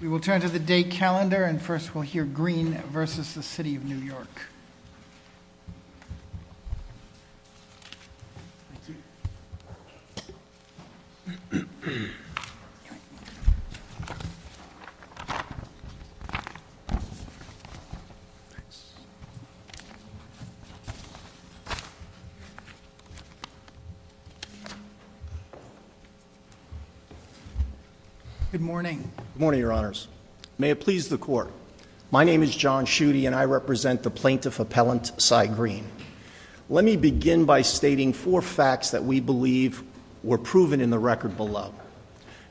We will turn to the day calendar and first we'll hear Greene v. City of New York. Thank you. Good morning. Good morning, your honors. May it please the court. My name is John Schuette and I represent the plaintiff appellant Cy Greene. Let me begin by stating four facts that we believe were proven in the record below.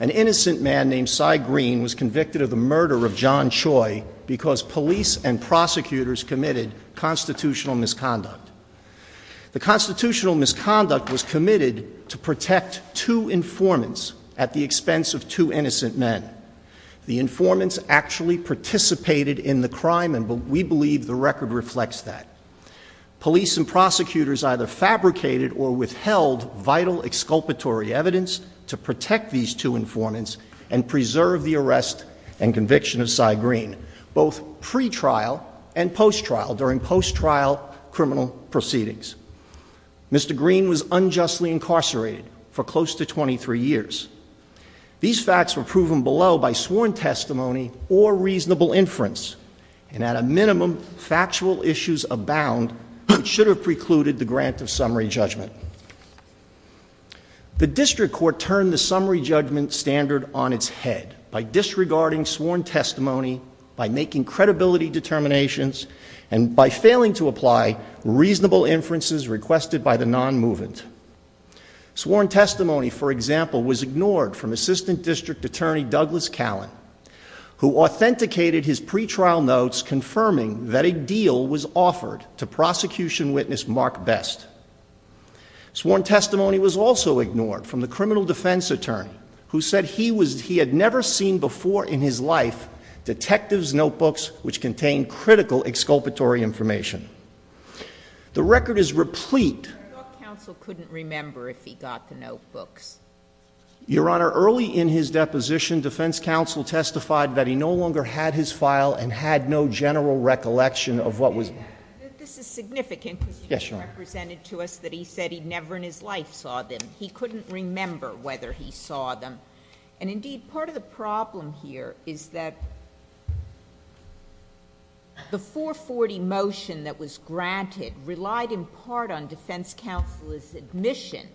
An innocent man named Cy Greene was convicted of the murder of John Choi because police and prosecutors committed constitutional misconduct. The constitutional misconduct was committed to protect two informants at the expense of two innocent men. The informants actually participated in the crime and we believe the record reflects that. Police and prosecutors either fabricated or withheld vital exculpatory evidence to protect these two informants and preserve the arrest and conviction of Cy Greene, both pre-trial and post-trial, during post-trial criminal proceedings. Mr. Greene was unjustly incarcerated for close to 23 years. These facts were proven below by sworn testimony or reasonable inference and at a minimum factual issues abound which should have precluded the grant of summary judgment. The district court turned the summary judgment standard on its head by disregarding sworn testimony, by making credibility determinations, and by failing to apply reasonable inferences requested by the non-movement. Sworn testimony, for example, was ignored from Assistant District Attorney Douglas Callen who authenticated his pre-trial notes confirming that a deal was offered to prosecution witness Mark Best. Sworn testimony was also ignored from the criminal defense attorney who said he had never seen before in his life detectives' notebooks which contained critical exculpatory information. The record is replete. I thought counsel couldn't remember if he got the notebooks. Your Honor, early in his deposition, defense counsel testified that he no longer had his file and had no general recollection of what was. This is significant. Yes, Your Honor. Because he represented to us that he said he never in his life saw them. He couldn't remember whether he saw them. And indeed, part of the problem here is that the 440 motion that was granted relied in part on defense counsel's admission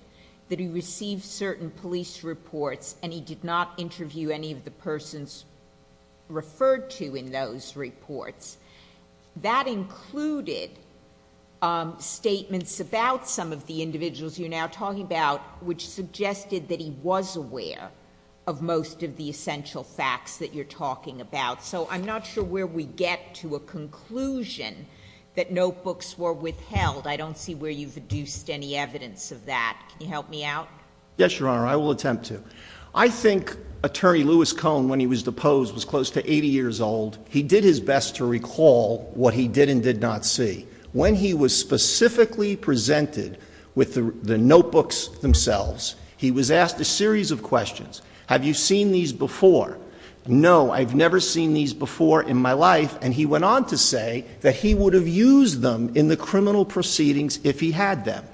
that he received certain police reports and he did not interview any of the persons referred to in those reports. That included statements about some of the individuals you're now talking about which suggested that he was aware of most of the essential facts that you're talking about. So I'm not sure where we get to a conclusion that notebooks were withheld. I don't see where you've deduced any evidence of that. Can you help me out? Yes, Your Honor. I will attempt to. I think Attorney Lewis Cohn, when he was deposed, was close to 80 years old. He did his best to recall what he did and did not see. When he was specifically presented with the notebooks themselves, he was asked a series of questions. Have you seen these before? No, I've never seen these before in my life. And he went on to say that he would have used them in the criminal proceedings if he had them.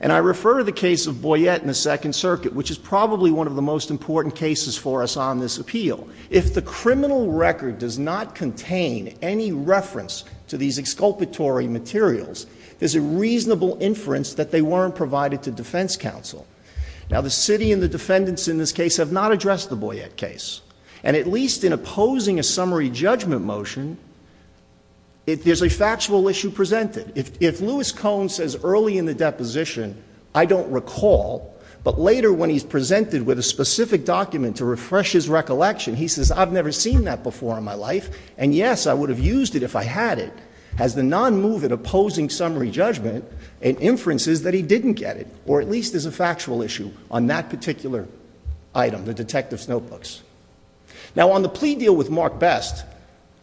And I refer to the case of Boyette in the Second Circuit, which is probably one of the most important cases for us on this appeal. If the criminal record does not contain any reference to these exculpatory materials, there's a reasonable inference that they weren't provided to defense counsel. Now, the city and the defendants in this case have not addressed the Boyette case. And at least in opposing a summary judgment motion, there's a factual issue presented. If Lewis Cohn says early in the deposition, I don't recall, but later when he's presented with a specific document to refresh his recollection, he says, I've never seen that before in my life, and yes, I would have used it if I had it, has the non-movement opposing summary judgment and inferences that he didn't get it, or at least there's a factual issue on that particular item, the detective's notebooks. Now, on the plea deal with Mark Best,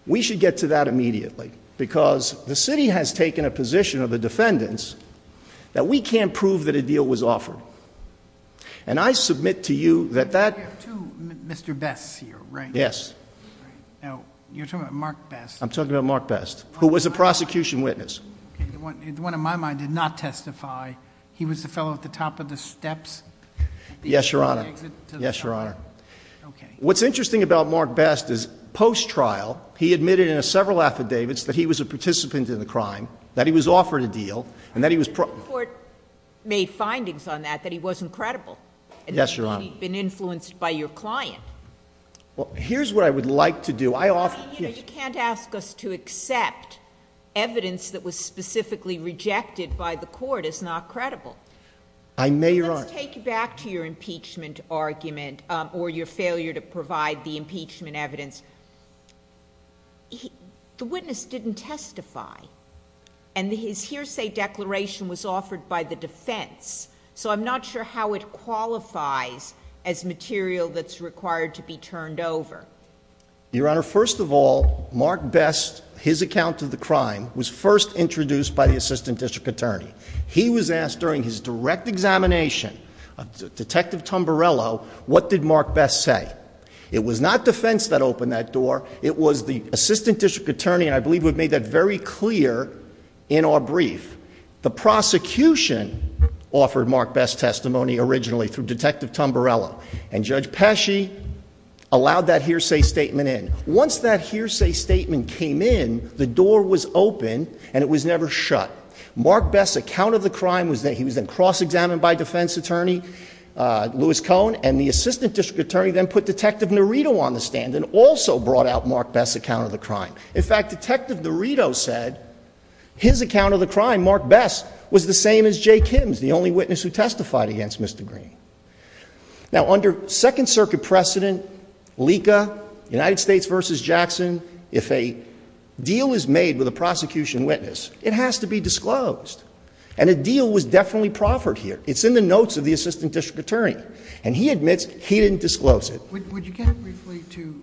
we should get to that immediately, because the city has taken a position of the defendants that we can't prove that a deal was offered. And I submit to you that that- You have two Mr. Bests here, right? Yes. Now, you're talking about Mark Best. I'm talking about Mark Best, who was a prosecution witness. The one in my mind did not testify. He was the fellow at the top of the steps. Yes, Your Honor. Yes, Your Honor. Okay. What's interesting about Mark Best is, post-trial, he admitted in several affidavits that he was a participant in the crime, that he was offered a deal, and that he was- The court made findings on that, that he wasn't credible. Yes, Your Honor. That he'd been influenced by your client. Well, here's what I would like to do. I offer- I mean, you know, you can't ask us to accept evidence that was specifically rejected by the court as not credible. I may or aren't. Let's take you back to your impeachment argument, or your failure to provide the impeachment evidence. The witness didn't testify. And his hearsay declaration was offered by the defense. So, I'm not sure how it qualifies as material that's required to be turned over. Your Honor, first of all, Mark Best, his account of the crime, was first introduced by the assistant district attorney. He was asked during his direct examination of Detective Tamburello, what did Mark Best say? It was not defense that opened that door. It was the assistant district attorney, and I believe we've made that very clear in our brief. The prosecution offered Mark Best testimony originally through Detective Tamburello. And Judge Pesci allowed that hearsay statement in. Once that hearsay statement came in, the door was open, and it was never shut. Mark Best's account of the crime, he was then cross-examined by defense attorney, Louis Cohn, and the assistant district attorney then put Detective Norito on the stand and also brought out Mark Best's account of the crime. In fact, Detective Norito said his account of the crime, Mark Best, was the same as Jay Kim's, the only witness who testified against Mr. Green. Now, under Second Circuit precedent, LECA, United States v. Jackson, if a deal is made with a prosecution witness, it has to be disclosed. And a deal was definitely proffered here. It's in the notes of the assistant district attorney, and he admits he didn't disclose it. Would you get briefly to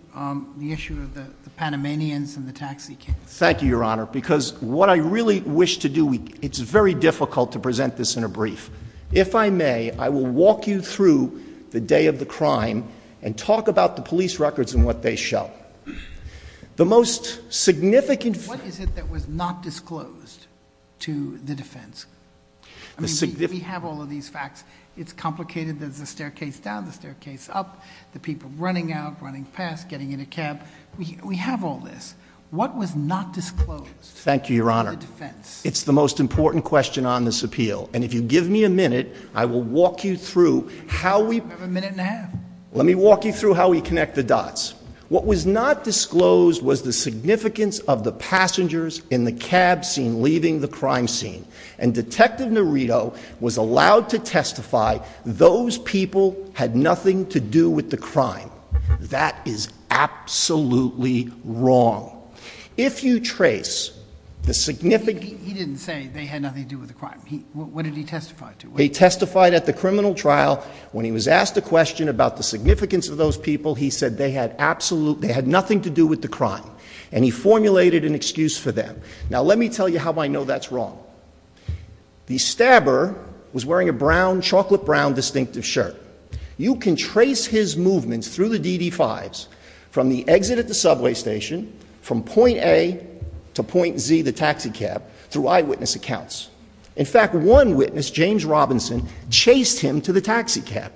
the issue of the Panamanians and the taxi kids? Thank you, Your Honor, because what I really wish to do, it's very difficult to present this in a brief. If I may, I will walk you through the day of the crime and talk about the police records and what they show. The most significant... What is it that was not disclosed to the defense? I mean, we have all of these facts. It's complicated. There's the staircase down, the staircase up, the people running out, running past, getting in a cab. We have all this. What was not disclosed to the defense? Thank you, Your Honor. It's the most important question on this appeal. And if you give me a minute, I will walk you through how we... You have a minute and a half. Let me walk you through how we connect the dots. What was not disclosed was the significance of the passengers in the cab scene leaving the crime scene. And Detective Nerito was allowed to testify those people had nothing to do with the crime. That is absolutely wrong. If you trace the significant... He didn't say they had nothing to do with the crime. What did he testify to? He testified at the criminal trial. When he was asked a question about the significance of those people, he said they had nothing to do with the crime. And he formulated an excuse for them. Now, let me tell you how I know that's wrong. The stabber was wearing a brown, chocolate brown distinctive shirt. You can trace his movements through the DD-5s from the exit at the subway station, from point A to point Z, the taxi cab, through eyewitness accounts. In fact, one witness, James Robinson, chased him to the taxi cab.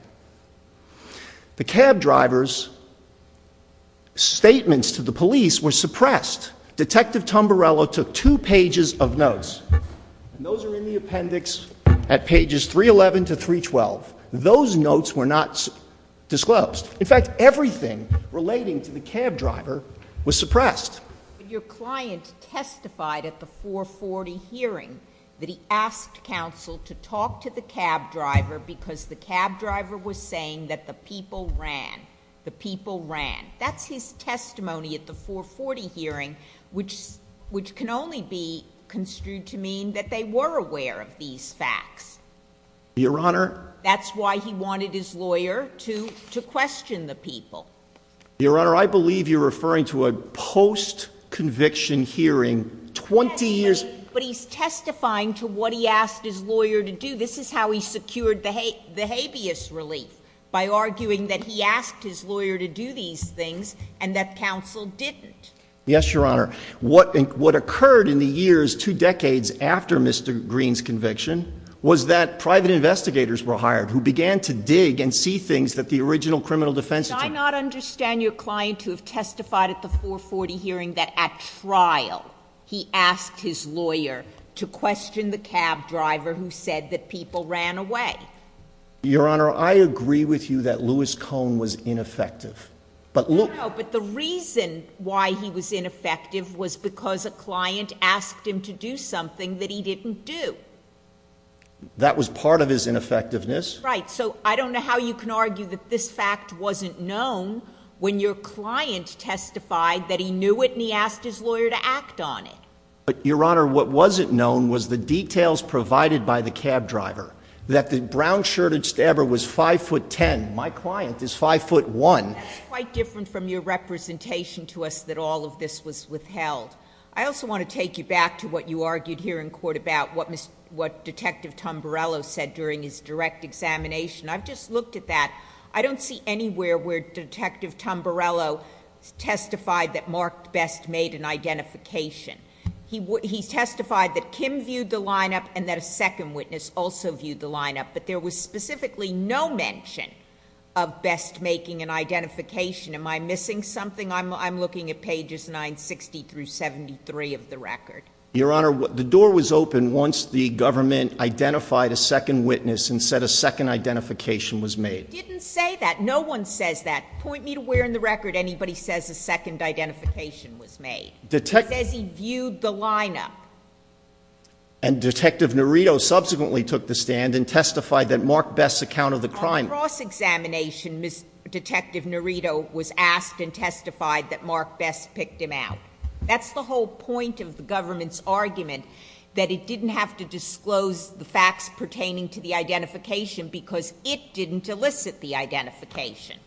The cab driver's statements to the police were suppressed. Detective Tumbarello took two pages of notes, and those are in the appendix at pages 311 to 312. Those notes were not disclosed. In fact, everything relating to the cab driver was suppressed. Your client testified at the 440 hearing that he asked counsel to talk to the cab driver because the cab driver was saying that the people ran. The people ran. That's his testimony at the 440 hearing, which can only be construed to mean that they were aware of these facts. Your Honor. That's why he wanted his lawyer to question the people. Your Honor, I believe you're referring to a post-conviction hearing 20 years— But he's testifying to what he asked his lawyer to do. This is how he secured the habeas relief, by arguing that he asked his lawyer to do these things and that counsel didn't. Yes, Your Honor. What occurred in the years two decades after Mr. Green's conviction was that private investigators were hired who began to dig and see things that the original criminal defense attorney— I do not understand your client to have testified at the 440 hearing that at trial he asked his lawyer to question the cab driver who said that people ran away. Your Honor, I agree with you that Louis Cohn was ineffective. But look— No, but the reason why he was ineffective was because a client asked him to do something that he didn't do. That was part of his ineffectiveness. Right. So I don't know how you can argue that this fact wasn't known when your client testified that he knew it and he asked his lawyer to act on it. But, Your Honor, what wasn't known was the details provided by the cab driver, that the brown-shirted stabber was 5'10". My client is 5'1". That's quite different from your representation to us that all of this was withheld. I also want to take you back to what you argued here in court about what Detective Tamburello said during his direct examination. I've just looked at that. I don't see anywhere where Detective Tamburello testified that Mark Best made an identification. He testified that Kim viewed the lineup and that a second witness also viewed the lineup. But there was specifically no mention of Best making an identification. Am I missing something? I'm looking at pages 960-73 of the record. Your Honor, the door was open once the government identified a second witness and said a second identification was made. It didn't say that. No one says that. Point me to where in the record anybody says a second identification was made. It says he viewed the lineup. And Detective Norito subsequently took the stand and testified that Mark Best accounted the crime. On cross-examination, Detective Norito was asked and testified that Mark Best picked him out. That's the whole point of the government's argument, that it didn't have to disclose the facts pertaining to the identification because it didn't elicit the identification.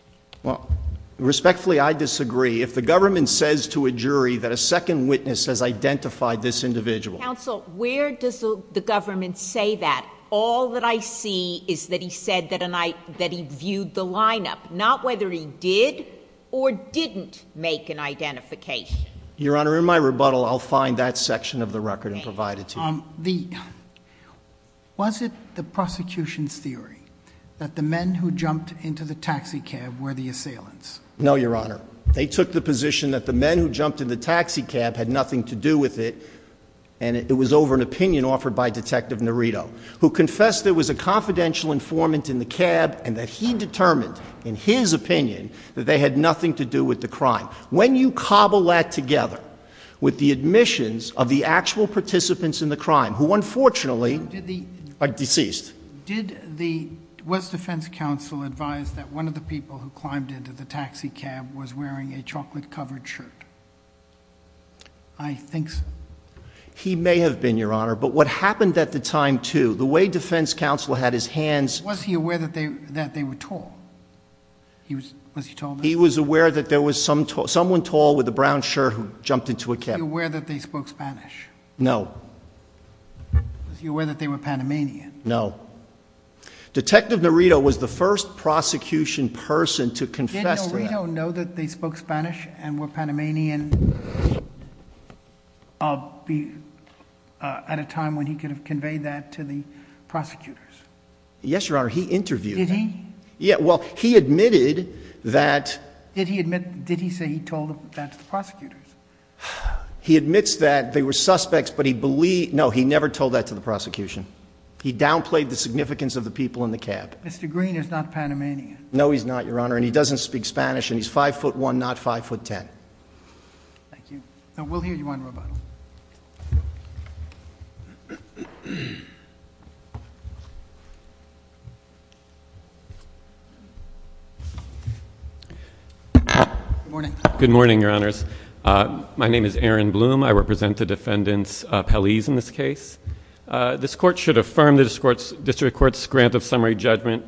Respectfully, I disagree. If the government says to a jury that a second witness has identified this individual. Counsel, where does the government say that? All that I see is that he said that he viewed the lineup, not whether he did or didn't make an identification. Your Honor, in my rebuttal, I'll find that section of the record and provide it to you. Was it the prosecution's theory that the men who jumped into the taxi cab were the assailants? No, Your Honor. They took the position that the men who jumped in the taxi cab had nothing to do with it and it was over an opinion offered by Detective Norito, who confessed there was a confidential informant in the cab and that he determined, in his opinion, that they had nothing to do with the crime. When you cobble that together with the admissions of the actual participants in the crime, who unfortunately are deceased. Was defense counsel advised that one of the people who climbed into the taxi cab was wearing a chocolate-covered shirt? I think so. He may have been, Your Honor, but what happened at the time, too, the way defense counsel had his hands— Was he aware that they were tall? Was he tall? He was aware that there was someone tall with a brown shirt who jumped into a cab. Was he aware that they spoke Spanish? No. Was he aware that they were Panamanian? No. Detective Norito was the first prosecution person to confess to that. Did Norito know that they spoke Spanish and were Panamanian at a time when he could have conveyed that to the prosecutors? Yes, Your Honor, he interviewed them. Did he? Well, he admitted that— Did he say he told that to the prosecutors? He admits that they were suspects, but he—no, he never told that to the prosecution. He downplayed the significance of the people in the cab. Mr. Green is not Panamanian. No, he's not, Your Honor, and he doesn't speak Spanish, and he's 5'1", not 5'10". Thank you. We'll hear you on rebuttal. Good morning. Good morning, Your Honors. My name is Aaron Bloom. I represent the defendant's appellees in this case. This court should affirm the district court's grant of summary judgment.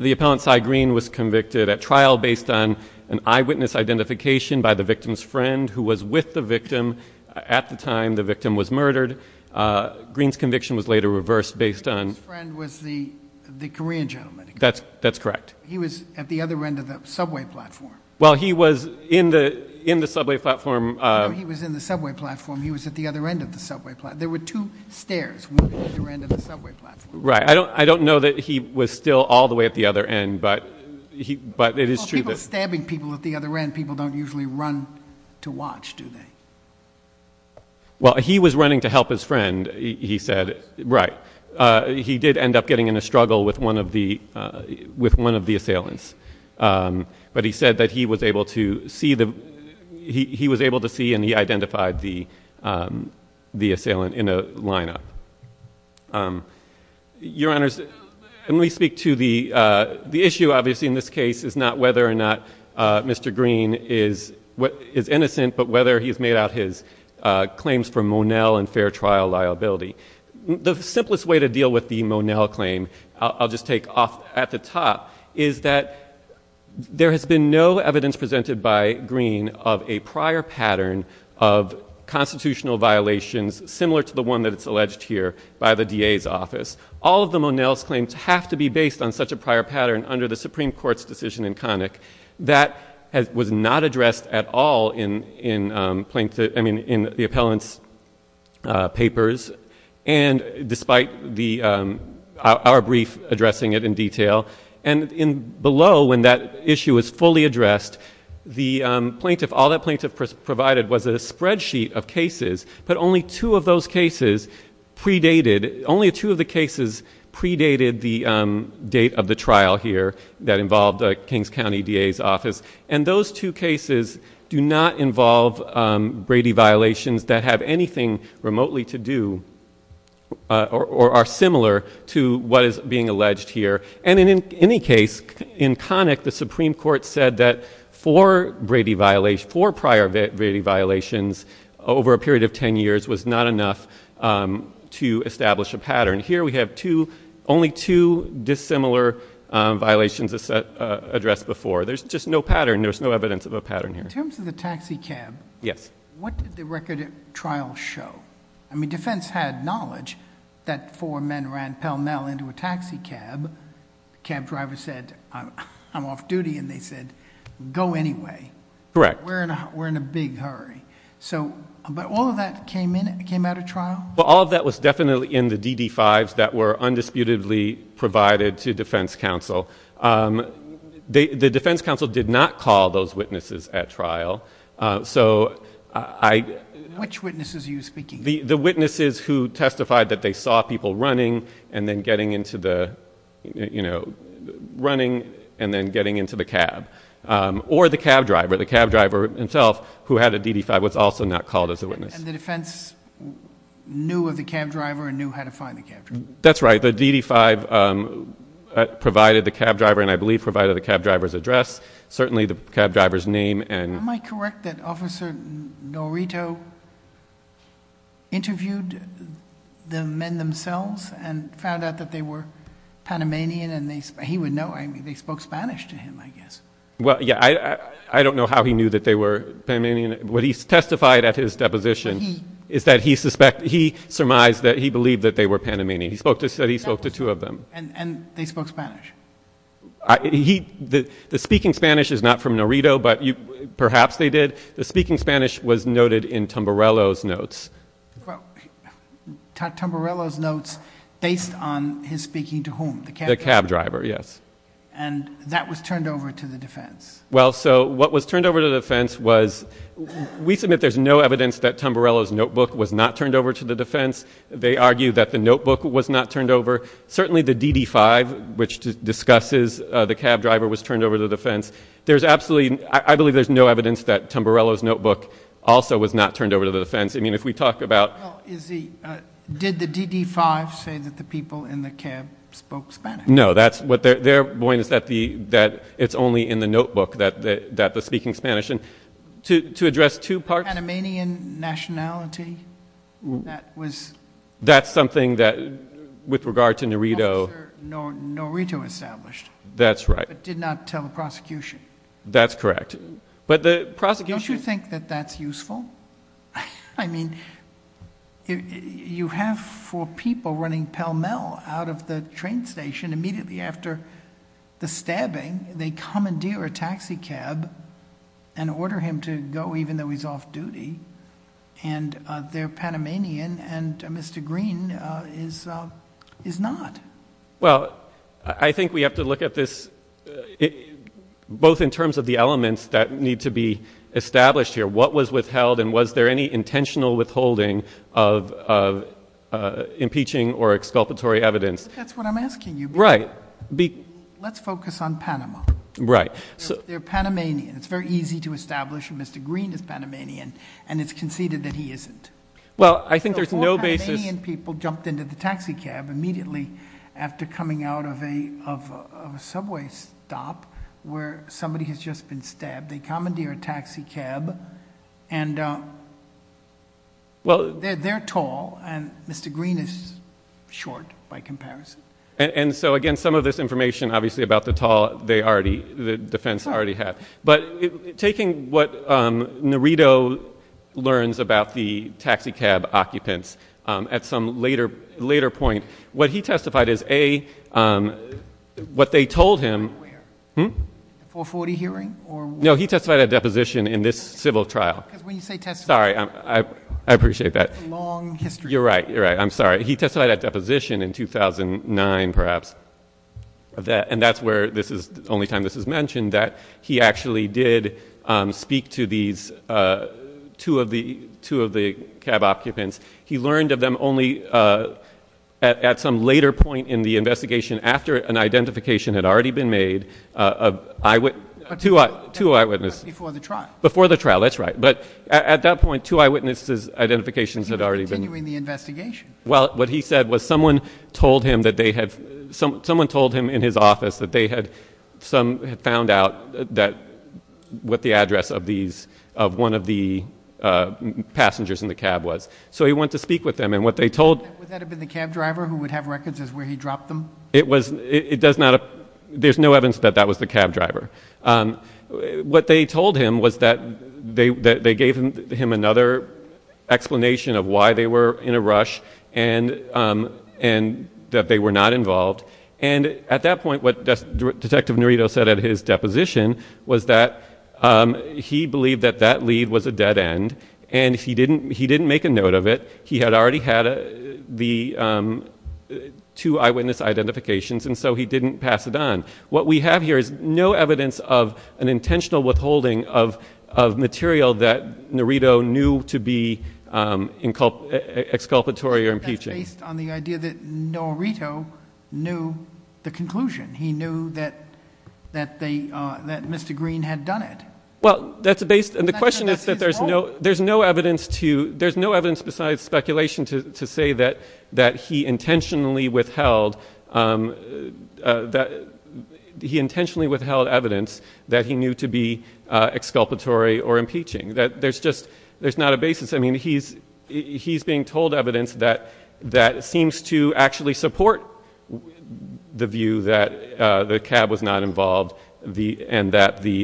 The appellant, Cy Green, was convicted at trial based on an eyewitness identification by the victim's friend who was with the victim at the time the victim was murdered. Green's conviction was later reversed based on— The victim's friend was the Korean gentleman. That's correct. He was at the other end of the subway platform. Well, he was in the subway platform— No, he was in the subway platform. He was at the other end of the subway platform. There were two stairs moving at the other end of the subway platform. Right. I don't know that he was still all the way at the other end, but it is true that— People stabbing people at the other end, people don't usually run to watch, do they? Well, he was running to help his friend, he said. Right. He did end up getting in a struggle with one of the assailants, but he said that he was able to see and he identified the assailant in a lineup. Your Honors, let me speak to the issue, obviously, in this case, is not whether or not Mr. Green is innocent, but whether he has made out his claims for Monell and fair trial liability. The simplest way to deal with the Monell claim, I'll just take off at the top, is that there has been no evidence presented by Green of a prior pattern of constitutional violations similar to the one that is alleged here by the DA's office. All of the Monell's claims have to be based on such a prior pattern under the Supreme Court's decision in Connick. That was not addressed at all in the appellant's papers, despite our brief addressing it in detail. Below, when that issue was fully addressed, all that plaintiff provided was a spreadsheet of cases, but only two of those cases predated the date of the trial here that involved Kings County DA's office. Those two cases do not involve Brady violations that have anything remotely to do or are similar to what is being alleged here. In any case, in Connick, the Supreme Court said that four prior Brady violations over a period of ten years was not enough to establish a pattern. Here we have only two dissimilar violations addressed before. There's just no pattern. There's no evidence of a pattern here. In terms of the taxi cab, what did the record at trial show? I mean, defense had knowledge that four men ran pell-mell into a taxi cab. The cab driver said, I'm off duty, and they said, go anyway. Correct. We're in a big hurry. But all of that came out of trial? All of that was definitely in the DD-5s that were undisputedly provided to defense counsel. The defense counsel did not call those witnesses at trial. Which witnesses are you speaking of? The witnesses who testified that they saw people running and then getting into the cab. Or the cab driver, the cab driver himself who had a DD-5 was also not called as a witness. And the defense knew of the cab driver and knew how to find the cab driver? That's right. The DD-5 provided the cab driver and I believe provided the cab driver's address, certainly the cab driver's name. Am I correct that Officer Norito interviewed the men themselves and found out that they were Panamanian and he would know? They spoke Spanish to him, I guess. Well, yeah, I don't know how he knew that they were Panamanian. What he testified at his deposition is that he surmised that he believed that they were Panamanian. He said he spoke to two of them. And they spoke Spanish? The speaking Spanish is not from Norito, but perhaps they did. The speaking Spanish was noted in Tamburello's notes. Tamburello's notes based on his speaking to whom, the cab driver? The cab driver, yes. And that was turned over to the defense? Well, so what was turned over to the defense was, we submit there's no evidence that Tamburello's notebook was not turned over to the defense. They argue that the notebook was not turned over. Certainly the DD-5, which discusses the cab driver, was turned over to the defense. I believe there's no evidence that Tamburello's notebook also was not turned over to the defense. I mean, if we talk about... Did the DD-5 say that the people in the cab spoke Spanish? No. Their point is that it's only in the notebook that the speaking Spanish. To address two parts... Panamanian nationality? That's something that, with regard to Norito... Norito established. That's right. But did not tell the prosecution. That's correct. But the prosecution... Don't you think that that's useful? I mean, you have four people running pell-mell out of the train station immediately after the stabbing. They commandeer a taxi cab and order him to go, even though he's off-duty. And they're Panamanian, and Mr. Green is not. Well, I think we have to look at this, both in terms of the elements that need to be established here. What was withheld, and was there any intentional withholding of impeaching or exculpatory evidence? That's what I'm asking you. Right. Let's focus on Panama. Right. They're Panamanian. It's very easy to establish that Mr. Green is Panamanian, and it's conceded that he isn't. Well, I think there's no basis... Four Panamanian people jumped into the taxi cab immediately after coming out of a subway stop, where somebody has just been stabbed. They commandeer a taxi cab, and they're tall, and Mr. Green is short by comparison. And so, again, some of this information, obviously, about the tall, the defense already had. But taking what Nerido learns about the taxi cab occupants at some later point, what he testified is, A, what they told him... Where? Hmm? A 440 hearing? No, he testified at deposition in this civil trial. Because when you say... Sorry. I appreciate that. It's a long history. You're right. You're right. I'm sorry. He testified at deposition in 2009, perhaps. And that's where this is... the only time this is mentioned, that he actually did speak to these two of the cab occupants. He learned of them only at some later point in the investigation, after an identification had already been made of eyewitness... Two eyewitness... Before the trial. Before the trial. That's right. But, at that point, two eyewitnesses' identifications had already been... He was continuing the investigation. Well, what he said was someone told him that they had... someone told him in his office that they had... some had found out that... what the address of these... of one of the passengers in the cab was. So, he went to speak with them, and what they told... Would that have been the cab driver who would have records as where he dropped them? It was... it does not... there's no evidence that that was the cab driver. What they told him was that they gave him another explanation of why they were in a rush and that they were not involved. And, at that point, what Detective Norito said at his deposition was that he believed that that lead was a dead end... And, he didn't... he didn't make a note of it. He had already had the two eyewitness identifications, and so he didn't pass it on. What we have here is no evidence of an intentional withholding of material that Norito knew to be exculpatory or impeaching. That's based on the idea that Norito knew the conclusion. He knew that Mr. Green had done it. Well, that's based... And, the question is that there's no evidence to... there's no evidence besides speculation to say that he intentionally withheld... that he intentionally withheld evidence that he knew to be exculpatory or impeaching. That there's just... there's not a basis. I mean, he's being told evidence that seems to actually support the view that the cab was not involved and that, in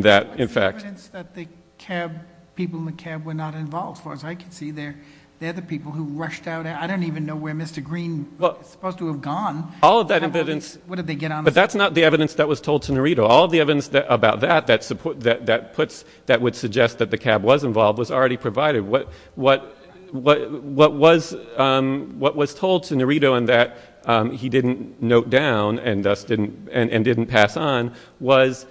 fact... But, there's evidence that the cab... people in the cab were not involved. As far as I can see, they're the people who rushed out. I don't even know where Mr. Green was supposed to have gone. All of that evidence... What did they get on the... But, that's not the evidence that was told to Norito. All of the evidence about that... that puts... that would suggest that the cab was involved was already provided. What was told to Norito and that he didn't note down and thus didn't... and didn't pass on... was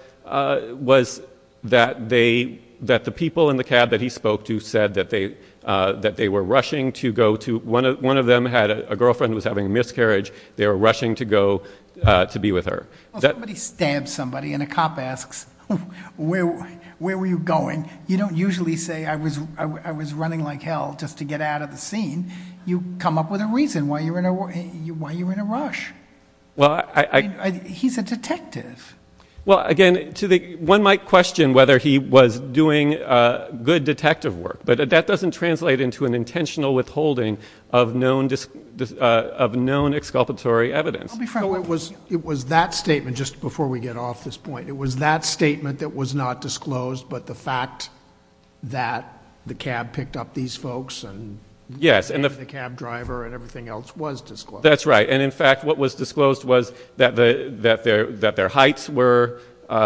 that they... that the people in the cab that he spoke to said that they were rushing to go to... One of them had a girlfriend who was having a miscarriage. They were rushing to go to be with her. Somebody stabs somebody and a cop asks, where were you going? You don't usually say, I was running like hell just to get out of the scene. You come up with a reason why you were in a rush. Well, I... He's a detective. Well, again, to the... one might question whether he was doing good detective work. But, that doesn't translate into an intentional withholding of known... of known exculpatory evidence. I'll be frank with you. It was that statement, just before we get off this point. It was that statement that was not disclosed, but the fact that the cab picked up these folks and... Yes, and the... And the cab driver and everything else was disclosed. That's right. And, in fact, what was disclosed was that their heights were... that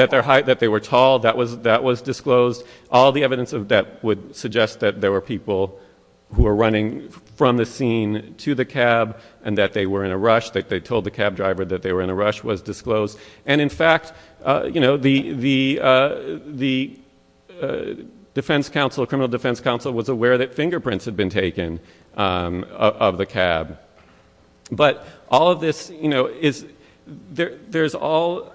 their height... that they were tall. That was disclosed. All the evidence of that would suggest that there were people who were running from the scene to the cab and that they were in a rush. That they told the cab driver that they were in a rush was disclosed. And, in fact, you know, the... the... the defense counsel... criminal defense counsel was aware that fingerprints had been taken of the cab. But, all of this, you know, is... there's all...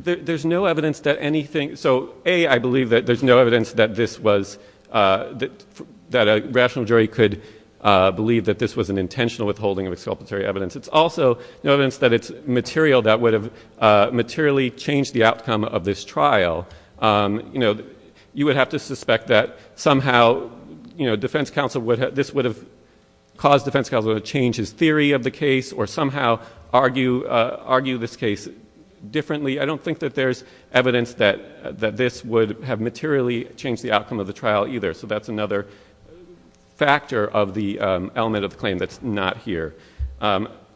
there's no evidence that anything... So, A, I believe that there's no evidence that this was... that a rational jury could believe that this was an intentional withholding of exculpatory evidence. It's also no evidence that it's material that would have materially changed the outcome of this trial. You know, you would have to suspect that somehow, you know, defense counsel would have... this would have caused defense counsel to change his theory of the case or somehow argue... argue this case differently. I don't think that there's evidence that... that this would have materially changed the outcome of the trial either. So, that's another factor of the element of the claim that's not here.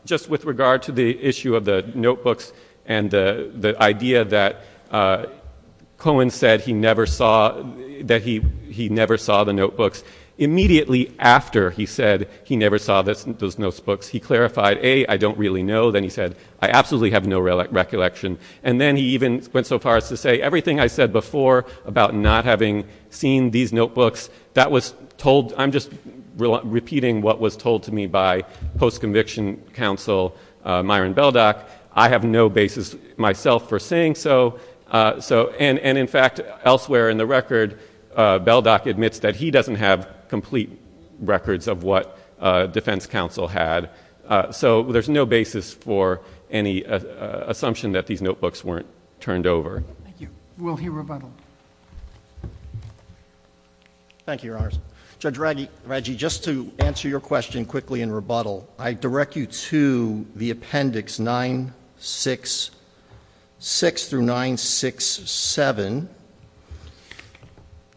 Just with regard to the issue of the notebooks and the idea that Cohen said he never saw... that he never saw the notebooks. Immediately after he said he never saw those notebooks, he clarified, A, I don't really know. Then he said, I absolutely have no recollection. And then, he even went so far as to say, everything I said before about not having seen these notebooks, that was told... I'm just repeating what was told to me by post-conviction counsel, Myron Beldock. I have no basis myself for saying so. So, and in fact, elsewhere in the record, Beldock admits that he doesn't have complete records of what defense counsel had. So, there's no basis for any assumption that these notebooks weren't turned over. Thank you. Thank you, Your Honors. Judge Raggi, just to answer your question quickly in rebuttal, I direct you to the Appendix 966 through 967.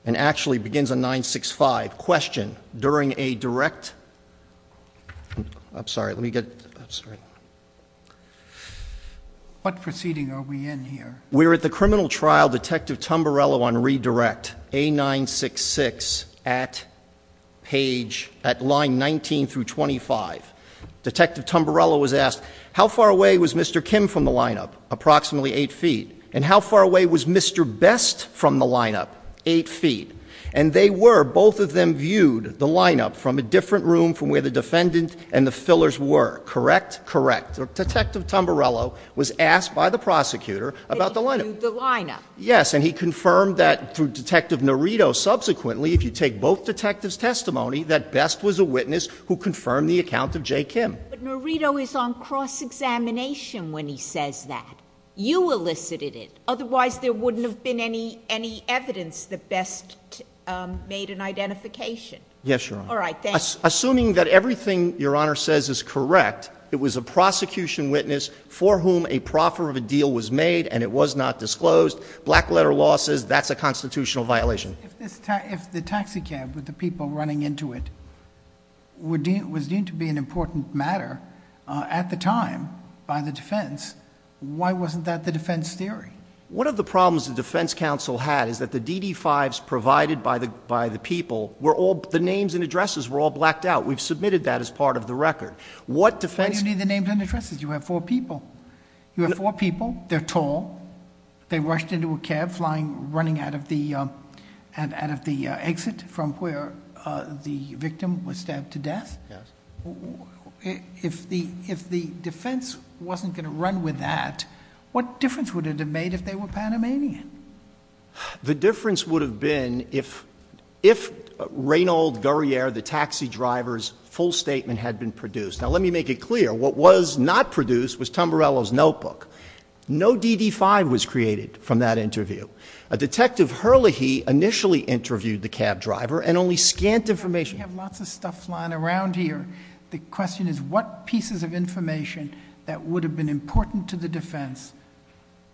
And actually, it begins on 965. Question. During a direct... I'm sorry. Let me get... I'm sorry. What proceeding are we in here? We're at the criminal trial, Detective Tumbarello on redirect, A966, at page... at line 19 through 25. Detective Tumbarello was asked, how far away was Mr. Kim from the lineup? Approximately eight feet. And, how far away was Mr. Best from the lineup? Eight feet. And, they were... both of them viewed the lineup from a different room from where the defendant and the fillers were. Correct? Correct. Detective Tumbarello was asked by the prosecutor about the lineup. They viewed the lineup. Yes. And, he confirmed that through Detective Norito, subsequently, if you take both detectives' testimony, that Best was a witness who confirmed the account of J. Kim. But, Norito is on cross-examination when he says that. You elicited it. Otherwise, there wouldn't have been any evidence that Best made an identification. Yes, Your Honor. All right. Thank you. Assuming that everything Your Honor says is correct, it was a prosecution witness for whom a proffer of a deal was made and it was not disclosed, black-letter law says that's a constitutional violation. If the taxicab with the people running into it was deemed to be an important matter at the time by the defense, why wasn't that the defense theory? One of the problems the defense counsel had is that the DD-5s provided by the people were all... the names and addresses were all blacked out. We've submitted that as part of the record. What defense... You need the names and addresses. You have four people. You have four people. They're tall. They rushed into a cab running out of the exit from where the victim was stabbed to death. Yes. If the defense wasn't going to run with that, what difference would it have made if they were Panamanian? The difference would have been if Reynold Guerriere, the taxi driver's, full statement had been produced. Now, let me make it clear. What was not produced was Tamburello's notebook. No DD-5 was created from that interview. Detective Herlihy initially interviewed the cab driver and only scant information... The question is what pieces of information that would have been important to the defense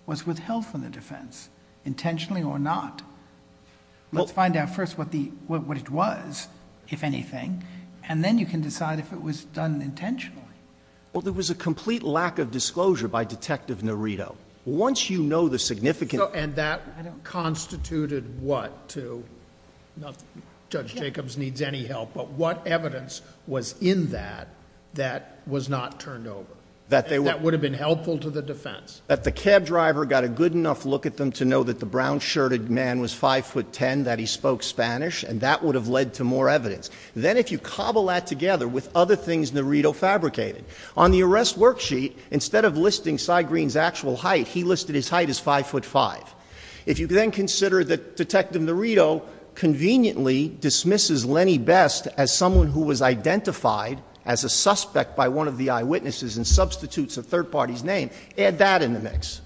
was withheld from the defense, intentionally or not? Let's find out first what it was, if anything, and then you can decide if it was done intentionally. Well, there was a complete lack of disclosure by Detective Nerito. And that constituted what to... Judge Jacobs needs any help, but what evidence was in that, that was not turned over? That would have been helpful to the defense? That the cab driver got a good enough look at them to know that the brown-shirted man was 5'10", that he spoke Spanish, and that would have led to more evidence. Then, if you cobble that together with other things Nerito fabricated, on the arrest worksheet, instead of listing Cy Green's actual height, he listed his height as 5'5". If you then consider that Detective Nerito conveniently dismisses Lenny Best as someone who was identified as a suspect by one of the eyewitnesses and substitutes a third party's name, add that in the mix.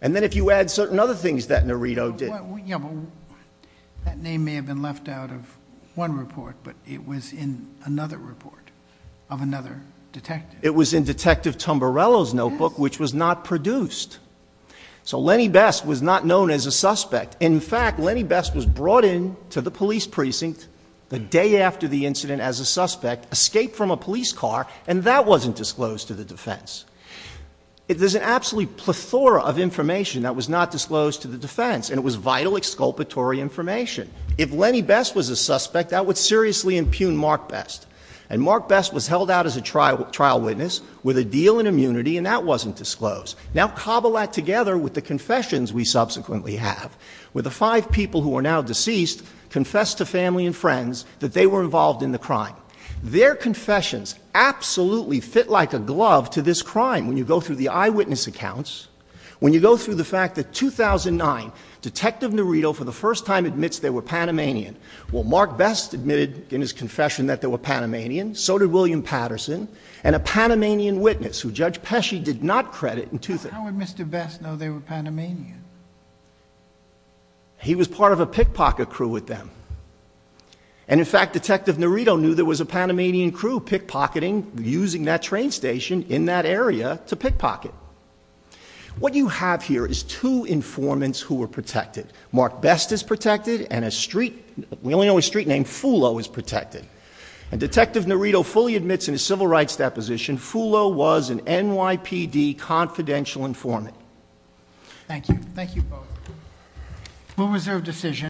And then if you add certain other things that Nerito did... Yeah, but that name may have been left out of one report, but it was in another report of another detective. It was in Detective Tumbarello's notebook, which was not produced. So Lenny Best was not known as a suspect. In fact, Lenny Best was brought in to the police precinct the day after the incident as a suspect, escaped from a police car, and that wasn't disclosed to the defense. There's an absolute plethora of information that was not disclosed to the defense, and it was vital exculpatory information. If Lenny Best was a suspect, that would seriously impugn Mark Best. And Mark Best was held out as a trial witness with a deal in immunity, and that wasn't disclosed. Now cobble that together with the confessions we subsequently have, where the five people who are now deceased confessed to family and friends that they were involved in the crime. Their confessions absolutely fit like a glove to this crime. When you go through the eyewitness accounts, when you go through the fact that 2009, Detective Nerito for the first time admits they were Panamanian. Well, Mark Best admitted in his confession that they were Panamanian, so did William How would Mr. Best know they were Panamanian? He was part of a pickpocket crew with them. And in fact, Detective Nerito knew there was a Panamanian crew pickpocketing, using that train station in that area to pickpocket. What you have here is two informants who were protected. Mark Best is protected, and a street, we only know his street name, Fulo, is protected. And Detective Nerito fully admits in his civil rights deposition, Fulo was an NYPD confidential informant. Thank you. Thank you both. We'll reserve decision.